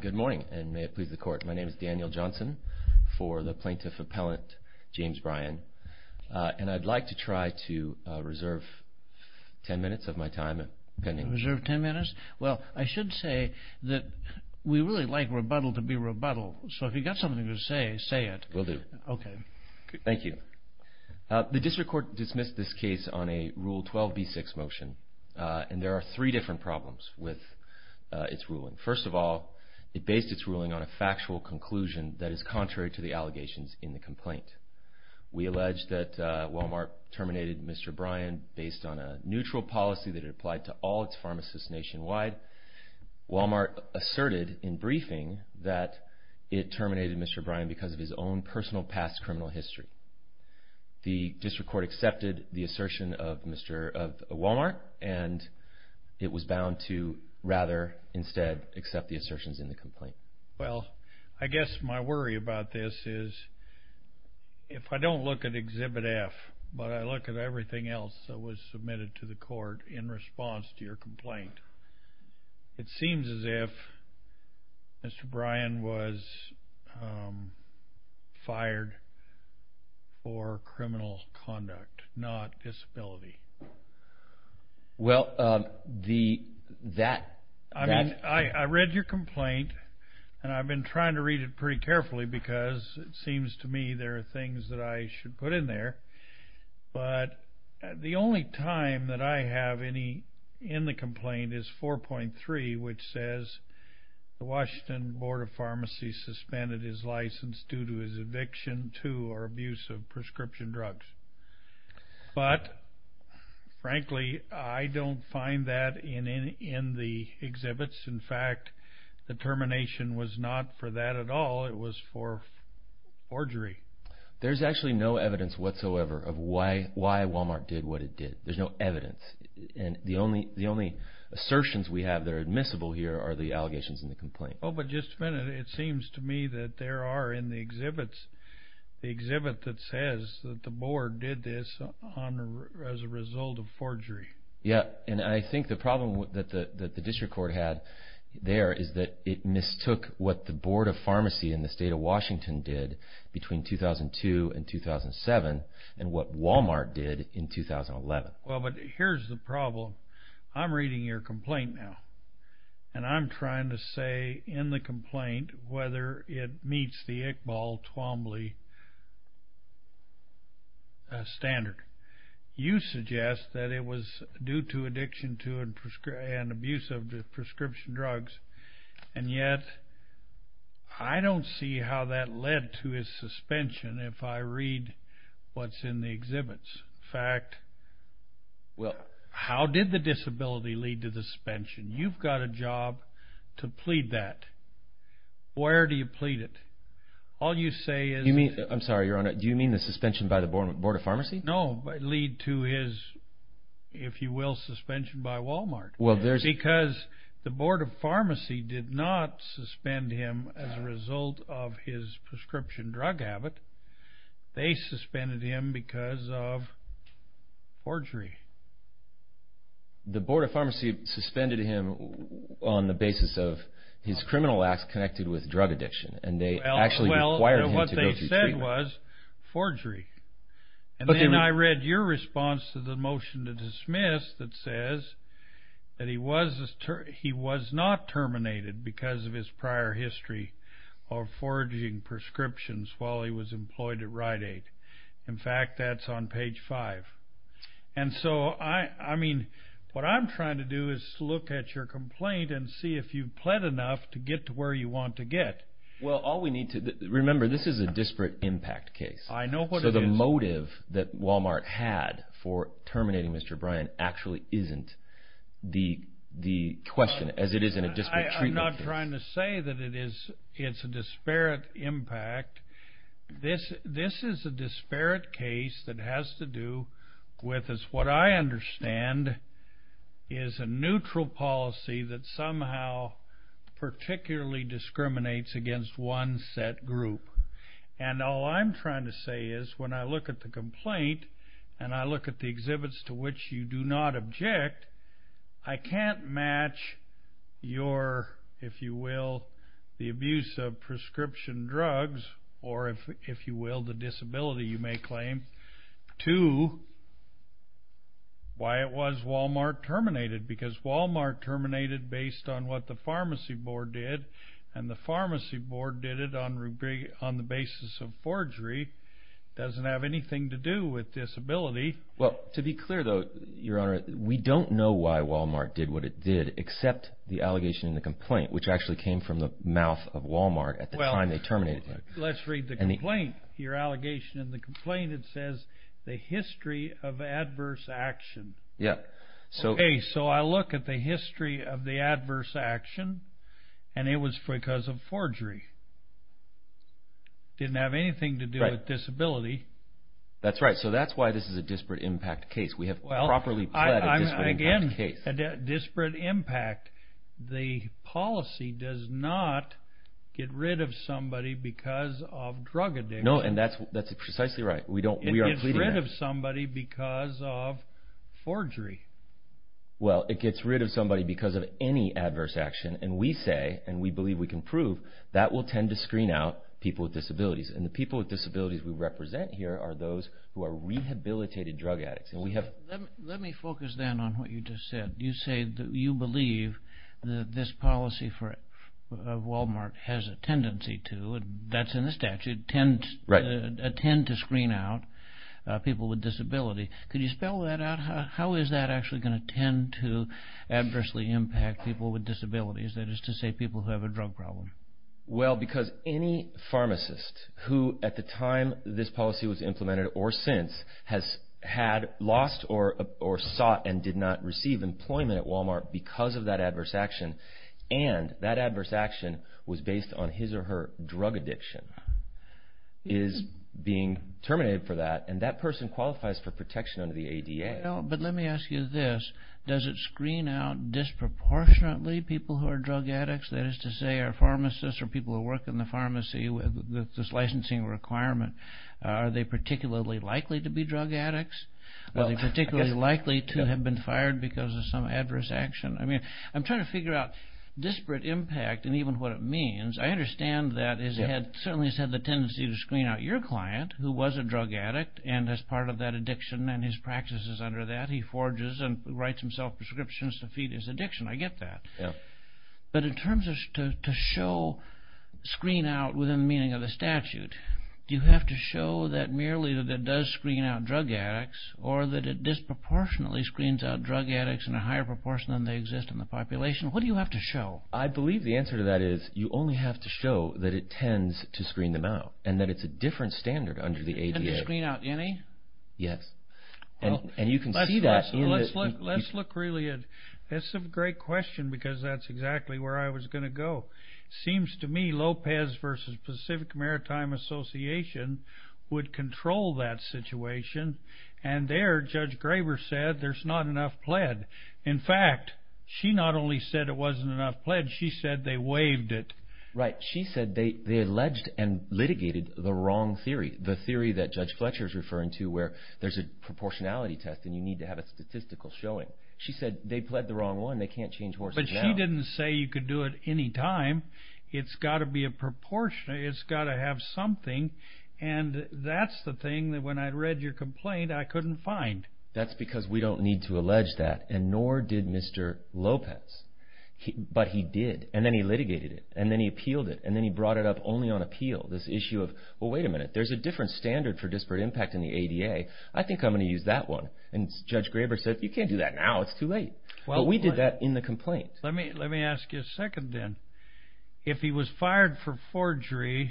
Good morning and may it please the court. My name is Daniel Johnson for the Plaintiff Appellant James Bryan. And I'd like to try to reserve 10 minutes of my time. Reserve 10 minutes? Well, I should say that we really like rebuttal to be rebuttal. So if you've got something to say, say it. Will do. Okay. Thank you. The District Court dismissed this case on a Rule 12b-6 motion. And there are three different problems with its ruling. First of all, it based its ruling on a factual conclusion that is contrary to the allegations in the complaint. We allege that Wal-Mart terminated Mr. Bryan based on a neutral policy that it applied to all its pharmacists nationwide. Wal-Mart asserted in briefing that it terminated Mr. Bryan because of his own personal past criminal history. The District Court accepted the assertion of Wal-Mart and it was bound to rather instead accept the assertions in the complaint. Well, I guess my worry about this is if I don't look at Exhibit F, but I look at everything else that was submitted to the court in response to your complaint, it seems as if Mr. Bryan was fired for criminal conduct, not disability. Well, the, that. I read your complaint and I've been trying to read it pretty carefully because it seems to me there are things that I should put in there. But the only time that I have any in the complaint is 4.3, which says the Washington Board of Pharmacy suspended his license due to his eviction to or abuse of prescription drugs. But frankly, I don't find that in the exhibits. In fact, the termination was not for that at all. It was for forgery. There's actually no evidence whatsoever of why Wal-Mart did what it did. There's no evidence. And the only assertions we have that are admissible here are the allegations in the complaint. Oh, but just a minute. It seems to me that there are in the exhibits, the exhibit that says that the board did this as a result of forgery. Yeah, and I think the problem that the District Court had there is that it mistook what the Board of Pharmacy in the state of Washington did between 2002 and 2007 and what Wal-Mart did in 2011. Well, but here's the problem. I'm reading your complaint now, and I'm trying to say in the complaint whether it meets the Iqbal Twombly standard. You suggest that it was due to addiction to and abuse of prescription drugs, and yet I don't see how that led to his suspension if I read what's in the exhibits. In fact, how did the disability lead to the suspension? You've got a job to plead that. Where do you plead it? All you say is... I'm sorry, Your Honor. Do you mean the suspension by the Board of Pharmacy? No, but lead to his, if you will, suspension by Wal-Mart. Because the Board of Pharmacy did not suspend him as a result of his prescription drug habit. They suspended him because of forgery. The Board of Pharmacy suspended him on the basis of his criminal acts connected with drug addiction, and they actually required him to go through treatment. That was forgery. And then I read your response to the motion to dismiss that says that he was not terminated because of his prior history of forging prescriptions while he was employed at Rite-Aid. In fact, that's on page 5. And so, I mean, what I'm trying to do is look at your complaint and see if you've pled enough to get to where you want to get. Well, all we need to... Remember, this is a disparate impact case. I know what it is. So the motive that Wal-Mart had for terminating Mr. Bryan actually isn't the question, as it is in a disparate treatment case. I'm not trying to say that it's a disparate impact. This is a disparate case that has to do with what I understand is a neutral policy that somehow particularly discriminates against one set group. And all I'm trying to say is when I look at the complaint and I look at the exhibits to which you do not object, I can't match your, if you will, the abuse of prescription drugs or, if you will, the disability you may claim to why it was Wal-Mart terminated because Wal-Mart terminated based on what the pharmacy board did, and the pharmacy board did it on the basis of forgery. It doesn't have anything to do with disability. Well, to be clear, though, Your Honor, we don't know why Wal-Mart did what it did except the allegation in the complaint, which actually came from the mouth of Wal-Mart at the time they terminated him. Let's read the complaint, your allegation in the complaint. It says, the history of adverse action. Okay, so I look at the history of the adverse action, and it was because of forgery. It didn't have anything to do with disability. That's right, so that's why this is a disparate impact case. We have properly pled a disparate impact case. Well, again, disparate impact. The policy does not get rid of somebody because of drug addiction. No, and that's precisely right. It gets rid of somebody because of forgery. Well, it gets rid of somebody because of any adverse action, and we say, and we believe we can prove, that will tend to screen out people with disabilities, and the people with disabilities we represent here are those who are rehabilitated drug addicts. Let me focus then on what you just said. You say that you believe that this policy of Wal-Mart has a tendency to, that's in the statute, tend to screen out people with disability. Could you spell that out? How is that actually going to tend to adversely impact people with disabilities, that is to say people who have a drug problem? Well, because any pharmacist who at the time this policy was implemented or since has had lost or sought and did not receive employment at Wal-Mart because of that adverse action, and that adverse action was based on his or her drug addiction, is being terminated for that, and that person qualifies for protection under the ADA. Well, but let me ask you this. Does it screen out disproportionately people who are drug addicts, that is to say our pharmacists or people who work in the pharmacy with this licensing requirement? Are they particularly likely to be drug addicts? Are they particularly likely to have been fired because of some adverse action? I mean, I'm trying to figure out disparate impact and even what it means. I understand that it certainly has had the tendency to screen out your client, who was a drug addict, and as part of that addiction and his practices under that, he forges and writes himself prescriptions to feed his addiction. I get that. But in terms of to screen out within the meaning of the statute, do you have to show that merely that it does screen out drug addicts or that it disproportionately screens out drug addicts in a higher proportion than they exist in the population? What do you have to show? I believe the answer to that is you only have to show that it tends to screen them out and that it's a different standard under the ADA. And to screen out any? Yes. And you can see that. Let's look really at, that's a great question because that's exactly where I was going to go. It seems to me Lopez versus Pacific Maritime Association would control that situation and there Judge Graber said there's not enough pled. In fact, she not only said it wasn't enough pled, she said they waived it. Right. She said they alleged and litigated the wrong theory, the theory that Judge Fletcher is referring to where there's a proportionality test and you need to have a statistical showing. She said they pled the wrong one. They can't change horses now. But she didn't say you could do it any time. It's got to be a proportion. It's got to have something. And that's the thing that when I read your complaint I couldn't find. That's because we don't need to allege that and nor did Mr. Lopez. But he did. And then he litigated it. And then he appealed it. And then he brought it up only on appeal, this issue of, well, wait a minute. There's a different standard for disparate impact in the ADA. I think I'm going to use that one. And Judge Graber said, you can't do that now. It's too late. But we did that in the complaint. Let me ask you a second then. If he was fired for forgery,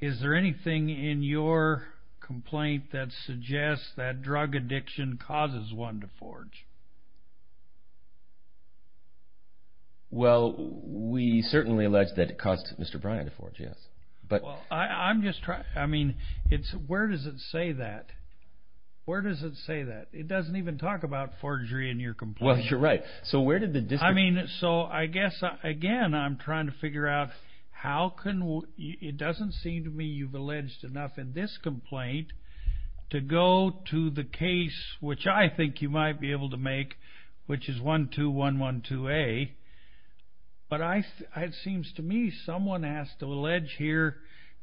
is there anything in your complaint that suggests that drug addiction causes one to forge? Well, we certainly allege that it caused Mr. Bryan to forge, yes. I'm just trying to – I mean, where does it say that? Where does it say that? It doesn't even talk about forgery in your complaint. Well, you're right. I mean, so I guess, again, I'm trying to figure out how can we – it doesn't seem to me you've alleged enough in this complaint to go to the case, which I think you might be able to make, which is 12112A. But it seems to me someone has to allege here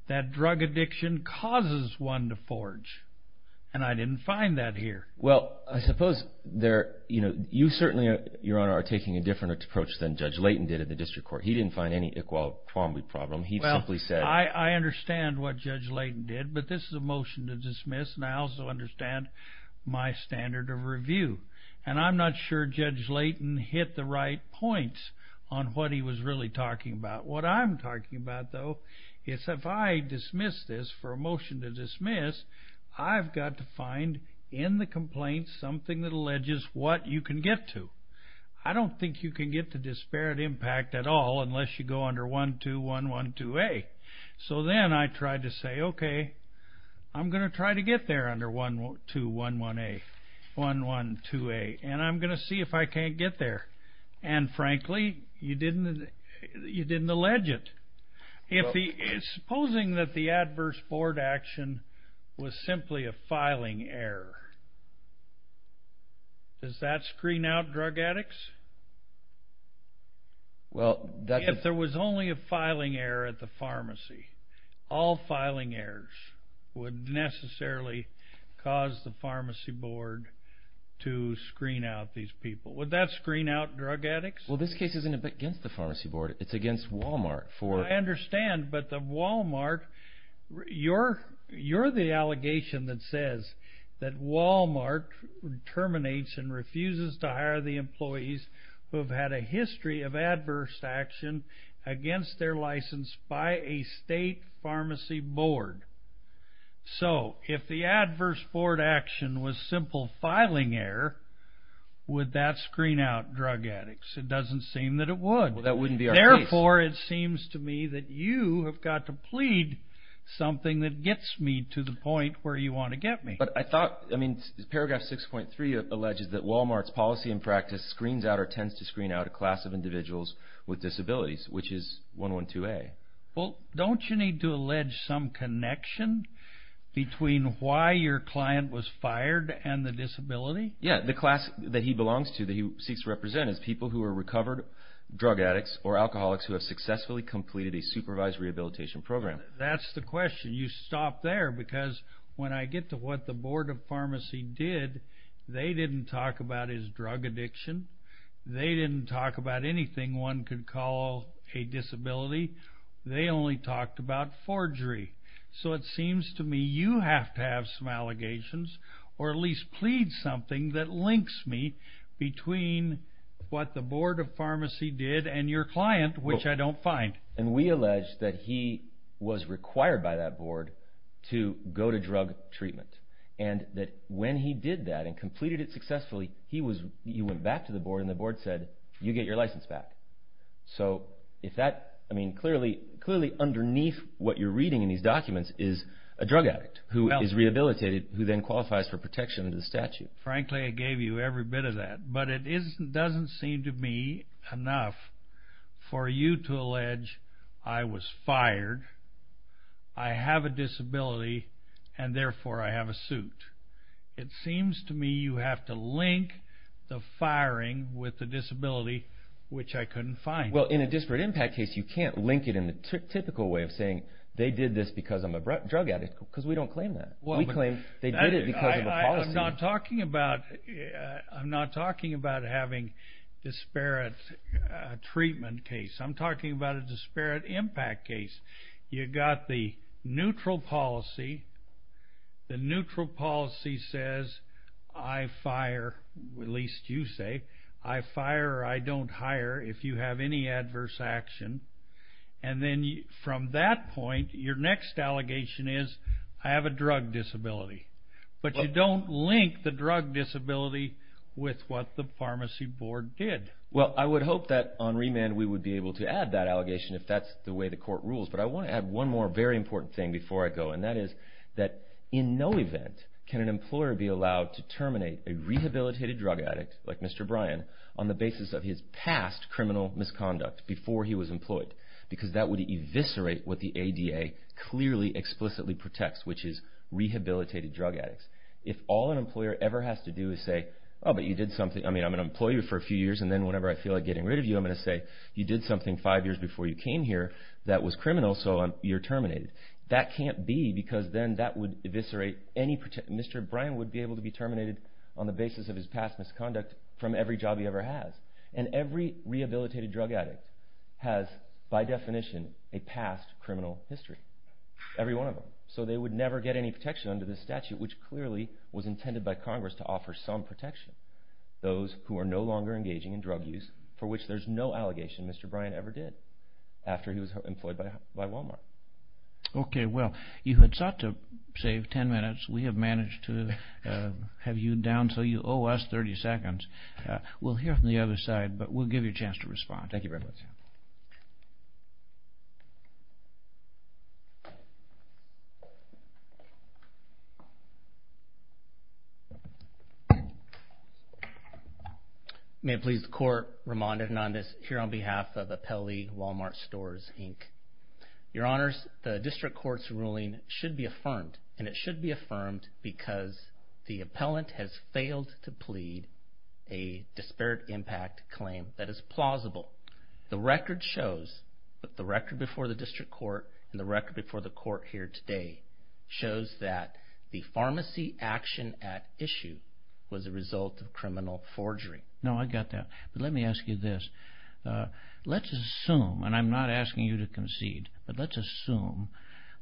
that drug addiction causes one to forge. And I didn't find that here. Well, I suppose there – you certainly, Your Honor, are taking a different approach than Judge Layton did in the district court. He didn't find any Iqbal Kwambe problem. He simply said – Well, I understand what Judge Layton did, but this is a motion to dismiss, and I also understand my standard of review. And I'm not sure Judge Layton hit the right points on what he was really talking about. What I'm talking about, though, is if I dismiss this for a motion to dismiss, I've got to find in the complaint something that alleges what you can get to. I don't think you can get to disparate impact at all unless you go under 12112A. So then I tried to say, okay, I'm going to try to get there under 12112A, and I'm going to see if I can't get there. And, frankly, you didn't allege it. Supposing that the adverse board action was simply a filing error, does that screen out drug addicts? If there was only a filing error at the pharmacy, all filing errors would necessarily cause the pharmacy board to screen out these people. Would that screen out drug addicts? Well, this case isn't against the pharmacy board. It's against Walmart. I understand, but the Walmart, you're the allegation that says that Walmart terminates and refuses to hire the employees who have had a history of adverse action against their license by a state pharmacy board. So if the adverse board action was simple filing error, would that screen out drug addicts? It doesn't seem that it would. Well, that wouldn't be our case. Therefore, it seems to me that you have got to plead something that gets me to the point where you want to get me. But I thought, I mean, paragraph 6.3 alleges that Walmart's policy and practice screens out or tends to screen out a class of individuals with disabilities, which is 112A. Well, don't you need to allege some connection between why your client was fired and the disability? Yeah, the class that he belongs to, that he seeks to represent is people who are recovered drug addicts or alcoholics who have successfully completed a supervised rehabilitation program. That's the question. You stop there because when I get to what the board of pharmacy did, they didn't talk about his drug addiction. They didn't talk about anything one could call a disability. They only talked about forgery. So it seems to me you have to have some allegations or at least plead something that links me between what the board of pharmacy did and your client, which I don't find. And we allege that he was required by that board to go to drug treatment and that when he did that and completed it successfully, he went back to the board and the board said, you get your license back. So clearly underneath what you're reading in these documents is a drug addict who is rehabilitated who then qualifies for protection under the statute. Frankly, I gave you every bit of that. But it doesn't seem to me enough for you to allege I was fired, I have a disability, and therefore I have a suit. It seems to me you have to link the firing with the disability, which I couldn't find. Well, in a disparate impact case, you can't link it in the typical way of saying they did this because I'm a drug addict because we don't claim that. We claim they did it because of a policy. I'm not talking about having disparate treatment case. I'm talking about a disparate impact case. You've got the neutral policy. The neutral policy says I fire, at least you say, I fire or I don't hire if you have any adverse action. And then from that point, your next allegation is I have a drug disability. But you don't link the drug disability with what the pharmacy board did. Well, I would hope that on remand we would be able to add that allegation if that's the way the court rules. But I want to add one more very important thing before I go. And that is that in no event can an employer be allowed to terminate a rehabilitated drug addict like Mr. Bryan on the basis of his past criminal misconduct before he was employed because that would eviscerate what the ADA clearly explicitly protects, which is rehabilitated drug addicts. If all an employer ever has to do is say, oh, but you did something. I mean, I'm an employee for a few years, and then whenever I feel like getting rid of you, I'm going to say you did something five years before you came here that was criminal, so you're terminated. That can't be because then that would eviscerate any protection. Mr. Bryan would be able to be terminated on the basis of his past misconduct from every job he ever has. And every rehabilitated drug addict has, by definition, a past criminal history, every one of them. So they would never get any protection under this statute, which clearly was intended by Congress to offer some protection. Those who are no longer engaging in drug use, for which there's no allegation Mr. Bryan ever did after he was employed by Walmart. Okay, well, you had sought to save 10 minutes. We have managed to have you down so you owe us 30 seconds. We'll hear from the other side, but we'll give you a chance to respond. Thank you very much. May it please the Court, Ramon Hernandez here on behalf of Appellee Walmart Stores, Inc. Your Honors, the district court's ruling should be affirmed, and it should be affirmed because the appellant has failed to plead a disparate impact claim that is plausible. The record shows, the record before the district court and the record before the court here today, shows that the Pharmacy Action Act issue was a result of criminal forgery. No, I got that. But let me ask you this. Let's assume, and I'm not asking you to concede, but let's assume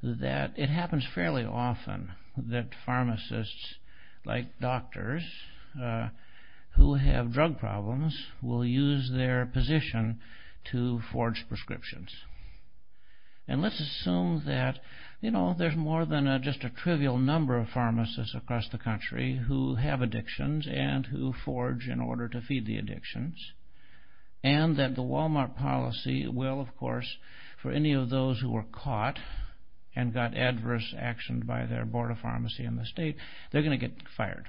that it happens fairly often that pharmacists like doctors who have drug problems will use their position to forge prescriptions. And let's assume that, you know, there's more than just a trivial number of pharmacists across the country who have addictions and who forge in order to feed the addictions. And that the Walmart policy will, of course, for any of those who were caught and got adverse action by their board of pharmacy in the state, they're going to get fired.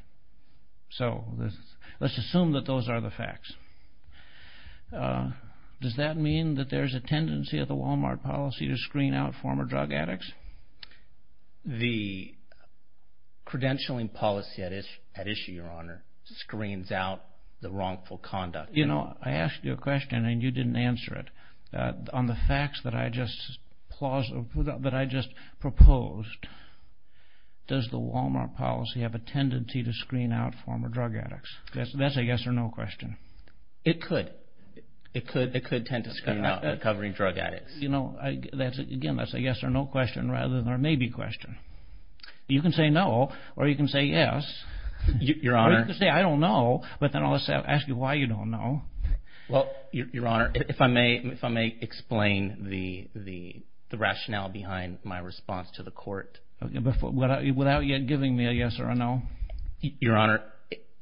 So let's assume that those are the facts. Does that mean that there's a tendency of the Walmart policy to screen out former drug addicts? The credentialing policy at issue, Your Honor, screens out the wrongful conduct. You know, I asked you a question and you didn't answer it. On the facts that I just proposed, does the Walmart policy have a tendency to screen out former drug addicts? That's a yes or no question. It could. It could tend to screen out recovering drug addicts. Again, that's a yes or no question rather than a maybe question. You can say no or you can say yes. Your Honor. Or you can say I don't know, but then I'll ask you why you don't know. Well, Your Honor, if I may explain the rationale behind my response to the court. Without yet giving me a yes or a no. Your Honor,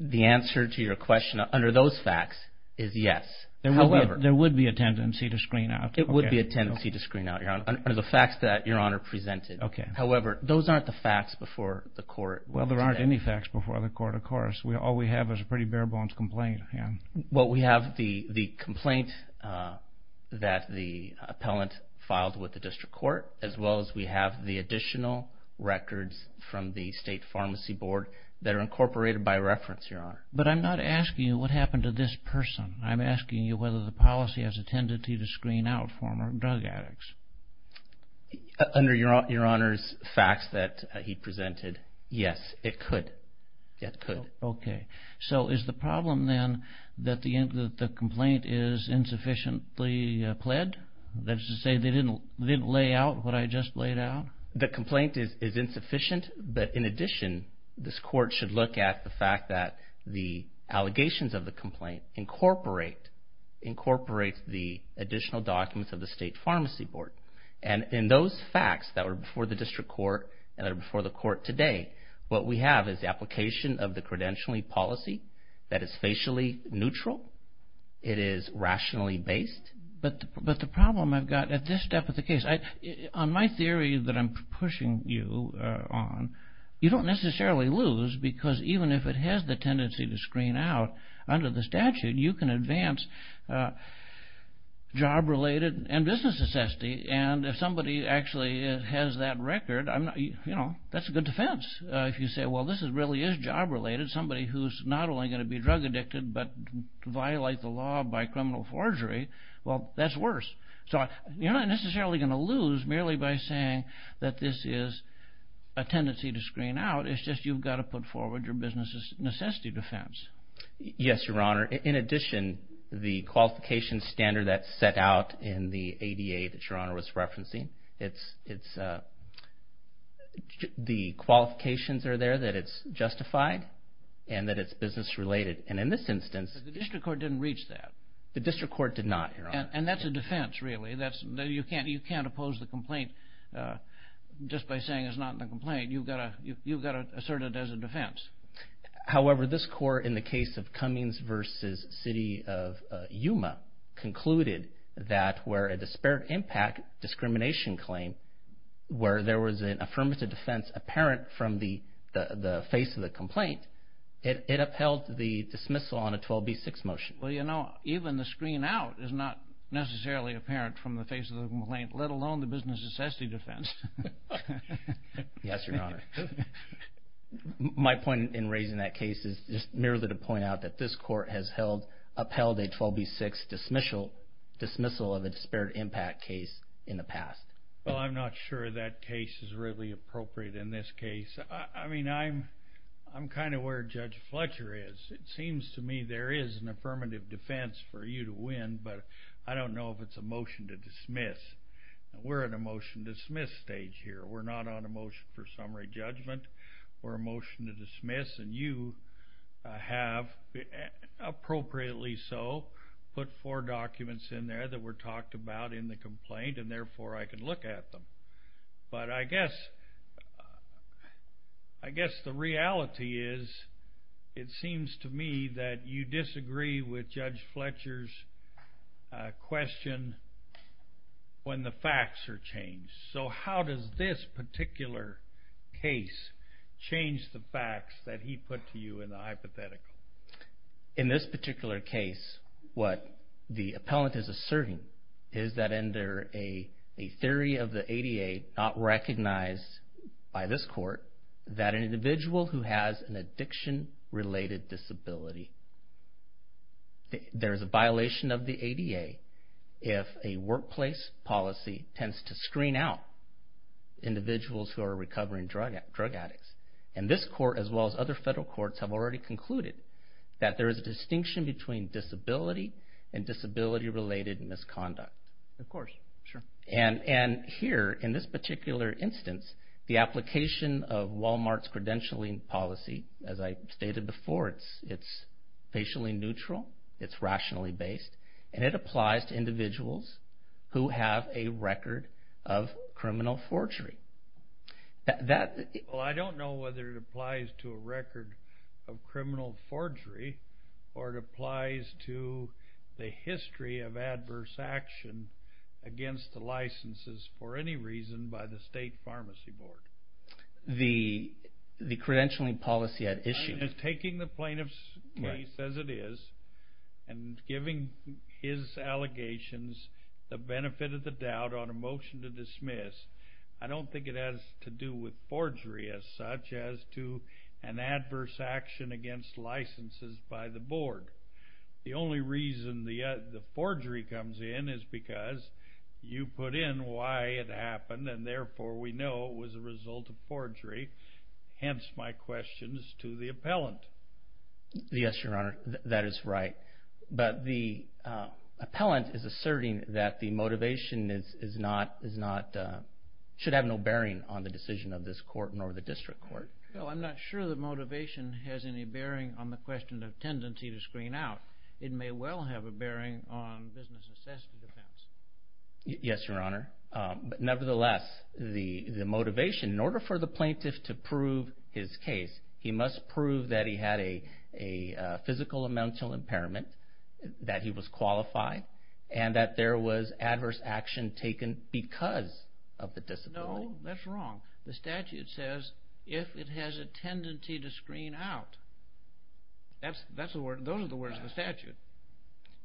the answer to your question under those facts is yes, however. There would be a tendency to screen out. It would be a tendency to screen out, Your Honor, under the facts that Your Honor presented. Okay. However, those aren't the facts before the court. Well, there aren't any facts before the court, of course. All we have is a pretty bare bones complaint. Well, we have the complaint that the appellant filed with the district court as well as we have the additional records from the state pharmacy board that are incorporated by reference, Your Honor. But I'm not asking you what happened to this person. I'm asking you whether the policy has a tendency to screen out former drug addicts. Under Your Honor's facts that he presented, yes, it could. It could. Okay. So is the problem then that the complaint is insufficiently pled? That is to say they didn't lay out what I just laid out? The complaint is insufficient, but in addition, this court should look at the fact that the allegations of the complaint incorporate the additional documents of the state pharmacy board. And in those facts that were before the district court and that are before the court today, what we have is the application of the credentialing policy that is facially neutral. It is rationally based. But the problem I've got at this step of the case, on my theory that I'm pushing you on, you don't necessarily lose because even if it has the tendency to screen out under the statute, you can advance job-related and business necessity. And if somebody actually has that record, you know, that's a good defense. If you say, well, this really is job-related, somebody who's not only going to be drug addicted but violate the law by criminal forgery, well, that's worse. So you're not necessarily going to lose merely by saying that this is a tendency to screen out. It's just you've got to put forward your business necessity defense. Yes, Your Honor. In addition, the qualification standard that's set out in the ADA that Your Honor was referencing, the qualifications are there that it's justified and that it's business-related. And in this instance... But the district court didn't reach that. The district court did not, Your Honor. And that's a defense, really. You can't oppose the complaint just by saying it's not in the complaint. You've got to assert it as a defense. However, this court in the case of Cummings v. City of Yuma concluded that where a disparate impact discrimination claim, where there was an affirmative defense apparent from the face of the complaint, it upheld the dismissal on a 12b-6 motion. Well, you know, even the screen out is not necessarily apparent from the face of the complaint, let alone the business necessity defense. Yes, Your Honor. My point in raising that case is just merely to point out that this court has upheld a 12b-6 dismissal of a disparate impact case in the past. Well, I'm not sure that case is really appropriate in this case. I mean, I'm kind of where Judge Fletcher is. It seems to me there is an affirmative defense for you to win, but I don't know if it's a motion to dismiss. We're in a motion to dismiss stage here. We're not on a motion for summary judgment. We're a motion to dismiss, and you have, appropriately so, put four documents in there that were talked about in the complaint, and therefore I can look at them. But I guess the reality is it seems to me that you disagree with Judge Fletcher's question when the facts are changed. So how does this particular case change the facts that he put to you in the hypothetical? In this particular case, what the appellant is asserting is that under a theory of the ADA not recognized by this court, that an individual who has an addiction-related disability, there is a violation of the ADA if a workplace policy tends to screen out individuals who are recovering drug addicts. And this court, as well as other federal courts, have already concluded that there is a distinction between disability and disability-related misconduct. Of course, sure. And here, in this particular instance, the application of Walmart's credentialing policy, as I stated before, it's patiently neutral, it's rationally based, and it applies to individuals who have a record of criminal forgery. Well, I don't know whether it applies to a record of criminal forgery or it applies to the history of adverse action against the licenses for any reason by the State Pharmacy Board. The credentialing policy at issue. I'm just taking the plaintiff's case as it is and giving his allegations the benefit of the doubt on a motion to dismiss. I don't think it has to do with forgery as such as to an adverse action against licenses by the board. The only reason the forgery comes in is because you put in why it happened and therefore we know it was a result of forgery. Hence my questions to the appellant. Yes, Your Honor, that is right. But the appellant is asserting that the motivation should have no bearing on the decision of this court nor the district court. Well, I'm not sure the motivation has any bearing on the question of tendency to screen out. It may well have a bearing on business assessment defense. Yes, Your Honor. Nevertheless, the motivation, in order for the plaintiff to prove his case, he must prove that he had a physical and mental impairment, that he was qualified, and that there was adverse action taken because of the disability. No, that's wrong. The statute says if it has a tendency to screen out. Those are the words of the statute.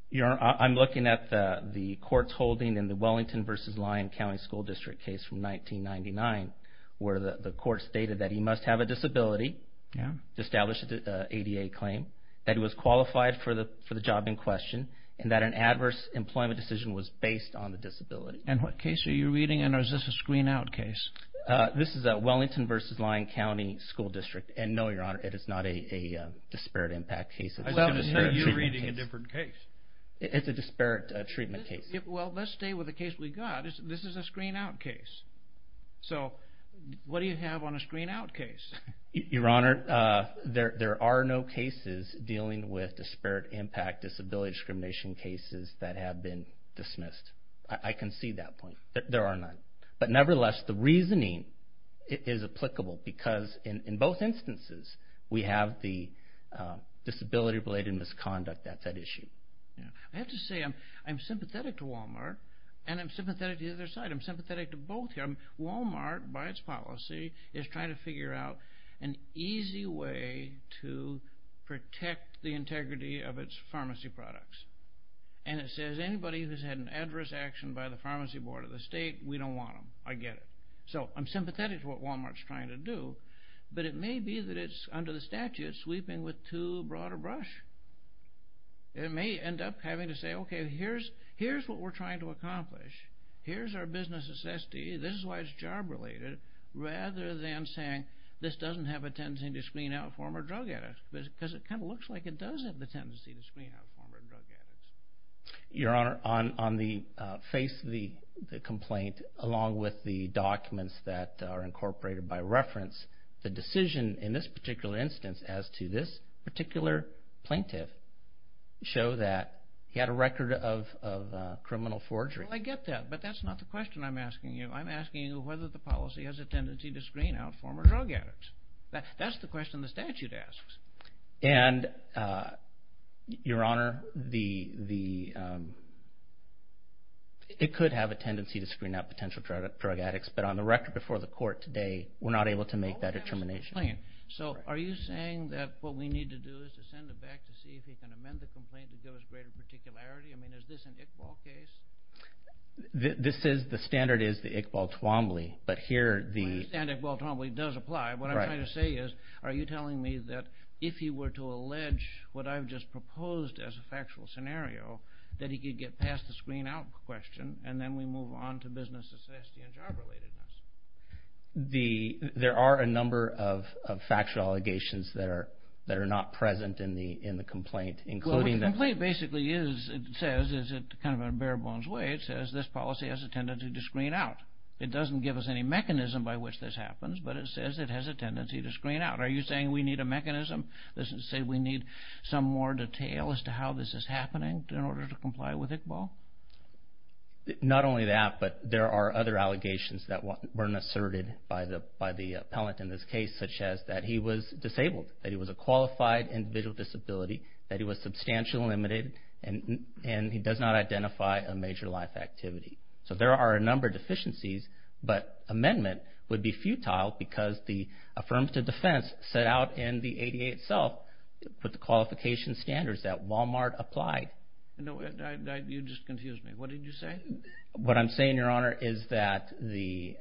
Your Honor, I'm looking at the court's holding in the Wellington v. Lyon County School District case from 1999 where the court stated that he must have a disability to establish an ADA claim, that he was qualified for the job in question, and that an adverse employment decision was based on the disability. And what case are you reading, and is this a screen-out case? This is a Wellington v. Lyon County School District. And no, Your Honor, it is not a disparate impact case. I should have said you're reading a different case. It's a disparate treatment case. Well, let's stay with the case we got. This is a screen-out case. So what do you have on a screen-out case? Your Honor, there are no cases dealing with disparate impact disability discrimination cases that have been dismissed. I can see that point, that there are none. But nevertheless, the reasoning is applicable because in both instances we have the disability-related misconduct that's at issue. I have to say I'm sympathetic to Walmart, and I'm sympathetic to the other side. I'm sympathetic to both. Walmart, by its policy, is trying to figure out an easy way to protect the integrity of its pharmacy products. And it says anybody who's had an adverse action by the pharmacy board of the state, we don't want them. I get it. So I'm sympathetic to what Walmart's trying to do, but it may be that it's under the statute sweeping with too broad a brush. It may end up having to say, okay, here's what we're trying to accomplish. Here's our business assessment. This is why it's job-related, rather than saying this doesn't have a tendency to screen out former drug addicts because it kind of looks like it does have the tendency to screen out former drug addicts. Your Honor, on the face of the complaint, along with the documents that are incorporated by reference, the decision in this particular instance as to this particular plaintiff show that he had a record of criminal forgery. Well, I get that, but that's not the question I'm asking you. I'm asking you whether the policy has a tendency to screen out former drug addicts. That's the question the statute asks. And, Your Honor, it could have a tendency to screen out potential drug addicts, but on the record before the court today, we're not able to make that determination. So are you saying that what we need to do is to send it back to see if he can amend the complaint to give us greater particularity? I mean, is this an Iqbal case? The standard is the Iqbal-Toomli, but here the... I understand Iqbal-Toomli does apply. What I'm trying to say is, are you telling me that if he were to allege what I've just proposed as a factual scenario, that he could get past the screen-out question and then we move on to business necessity and job-relatedness? There are a number of factual allegations that are not present in the complaint, including the... Well, the complaint basically says, kind of in a bare-bones way, it says this policy has a tendency to screen out. It doesn't give us any mechanism by which this happens, but it says it has a tendency to screen out. Are you saying we need a mechanism? Does it say we need some more detail as to how this is happening in order to comply with Iqbal? Not only that, but there are other allegations that weren't asserted by the appellant in this case, such as that he was disabled, that he was a qualified individual disability, that he was substantially limited, and he does not identify a major life activity. So there are a number of deficiencies, but amendment would be futile because the affirmative defense set out in the ADA itself with the qualification standards that Walmart applied. You just confused me. What did you say? What I'm saying, Your Honor, is that the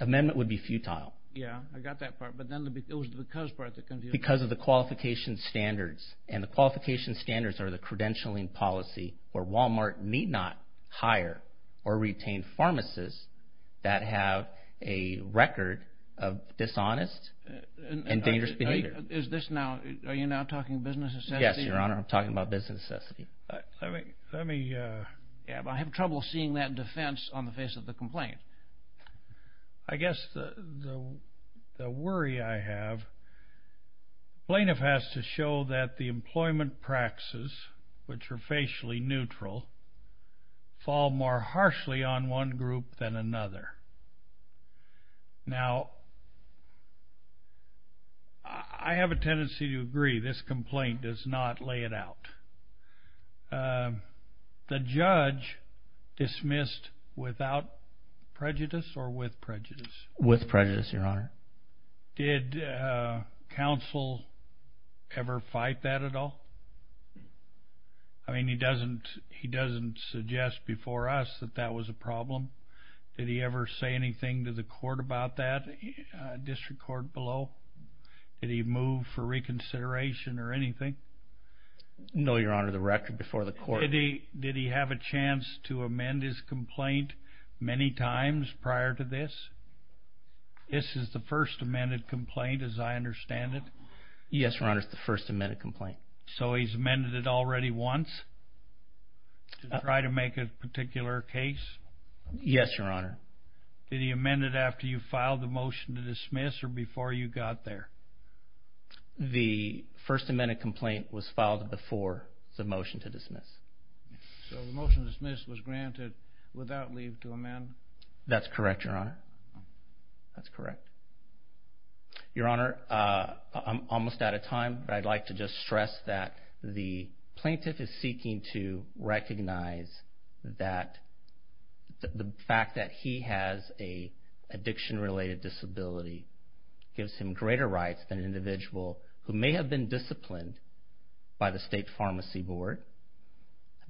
amendment would be futile. Yeah, I got that part, but then it was the because part that confused me. Because of the qualification standards, and the qualification standards are the credentialing policy where Walmart need not hire or retain pharmacists that have a record of dishonest and dangerous behavior. Are you now talking business necessity? Yes, Your Honor, I'm talking about business necessity. I have trouble seeing that defense on the face of the complaint. I guess the worry I have, plaintiff has to show that the employment practices, which are facially neutral, fall more harshly on one group than another. Now, I have a tendency to agree this complaint does not lay it out. The judge dismissed without prejudice or with prejudice? With prejudice, Your Honor. Did counsel ever fight that at all? I mean, he doesn't suggest before us that that was a problem. Did he ever say anything to the court about that, district court below? Did he move for reconsideration or anything? No, Your Honor, the record before the court. Did he have a chance to amend his complaint many times prior to this? This is the first amended complaint as I understand it? Yes, Your Honor, it's the first amended complaint. So he's amended it already once to try to make a particular case? Yes, Your Honor. Did he amend it after you filed the motion to dismiss or before you got there? The first amended complaint was filed before the motion to dismiss. So the motion to dismiss was granted without leave to amend? That's correct, Your Honor. That's correct. Your Honor, I'm almost out of time, but I'd like to just stress that the plaintiff is seeking to recognize that the fact that he has an addiction-related disability gives him greater rights than an individual who may have been disciplined by the state pharmacy board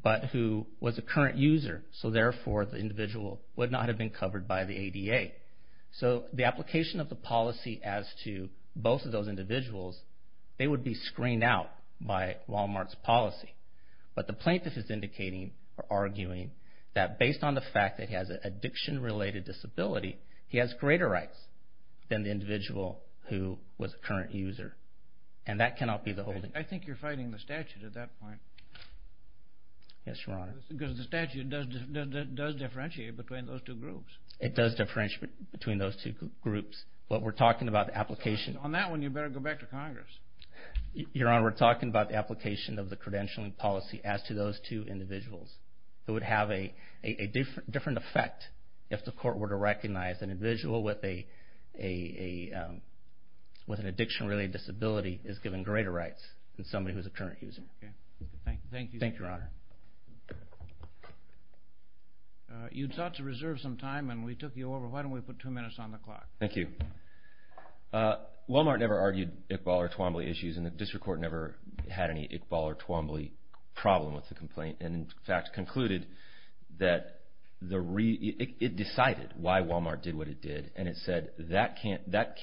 but who was a current user. So therefore, the individual would not have been covered by the ADA. So the application of the policy as to both of those individuals, they would be screened out by Walmart's policy. But the plaintiff is arguing that based on the fact that he has an addiction-related disability, he has greater rights than the individual who was a current user, and that cannot be the holding. I think you're fighting the statute at that point. Yes, Your Honor. Because the statute does differentiate between those two groups. It does differentiate between those two groups. But we're talking about the application. On that one, you'd better go back to Congress. Your Honor, we're talking about the application of the credentialing policy as to those two individuals. It would have a different effect if the court were to recognize an individual with an addiction-related disability is given greater rights than somebody who's a current user. Thank you. Thank you, Your Honor. You sought to reserve some time, and we took you over. Why don't we put two minutes on the clock? Thank you. Walmart never argued Iqbal or Twombly issues, and the district court never had any Iqbal or Twombly problem with the complaint, and in fact concluded that it decided why Walmart did what it did, and it said that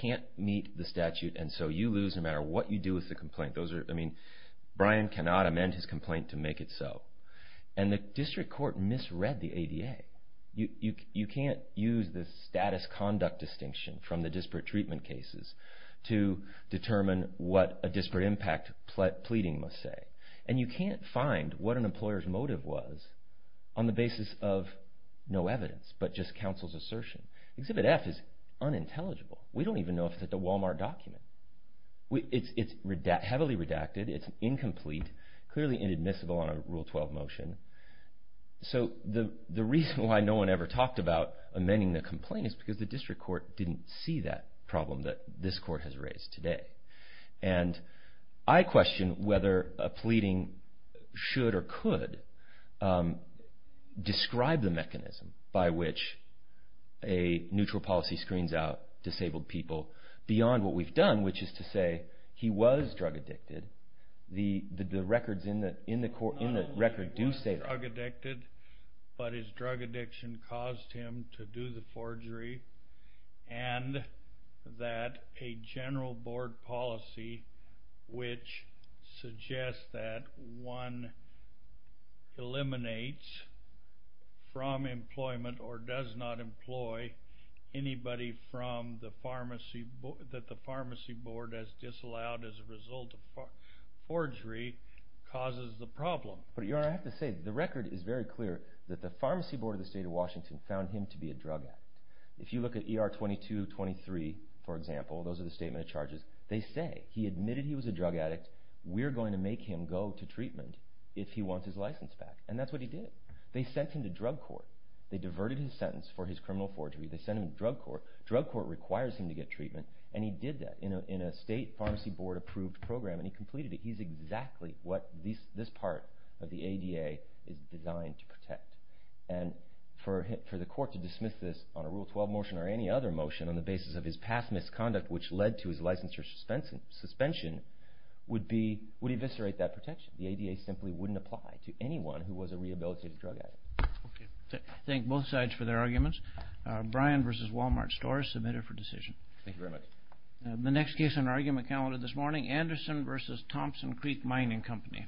can't meet the statute, and so you lose no matter what you do with the complaint. Brian cannot amend his complaint to make it so, and the district court misread the ADA. You can't use the status conduct distinction from the disparate treatment cases to determine what a disparate impact pleading must say, and you can't find what an employer's motive was on the basis of no evidence but just counsel's assertion. Exhibit F is unintelligible. We don't even know if it's at the Walmart document. It's heavily redacted. It's incomplete, clearly inadmissible on a Rule 12 motion. So the reason why no one ever talked about amending the complaint is because the district court didn't see that problem that this court has raised today, and I question whether a pleading should or could describe the mechanism by which a neutral policy screens out disabled people beyond what we've done, which is to say he was drug addicted. The records in the record do say that. He was drug addicted, but his drug addiction caused him to do the forgery, and that a general board policy which suggests that one eliminates from employment or does not employ anybody that the pharmacy board has disallowed as a result of forgery causes the problem. But, Your Honor, I have to say the record is very clear that the pharmacy board of the state of Washington found him to be a drug addict. If you look at ER 2223, for example, those are the statement of charges. They say he admitted he was a drug addict. We're going to make him go to treatment if he wants his license back, and that's what he did. They sent him to drug court. They diverted his sentence for his criminal forgery. They sent him to drug court. Drug court requires him to get treatment, and he did that in a state pharmacy board-approved program, and he completed it. He's exactly what this part of the ADA is designed to protect. And for the court to dismiss this on a Rule 12 motion or any other motion on the basis of his past misconduct which led to his license suspension would eviscerate that protection. The ADA simply wouldn't apply to anyone who was a rehabilitated drug addict. Thank both sides for their arguments. Brian v. Wal-Mart Stores, submitter for decision. Thank you very much. The next case on our argument calendar this morning, Anderson v. Thompson Creek Mining Company. 10-1.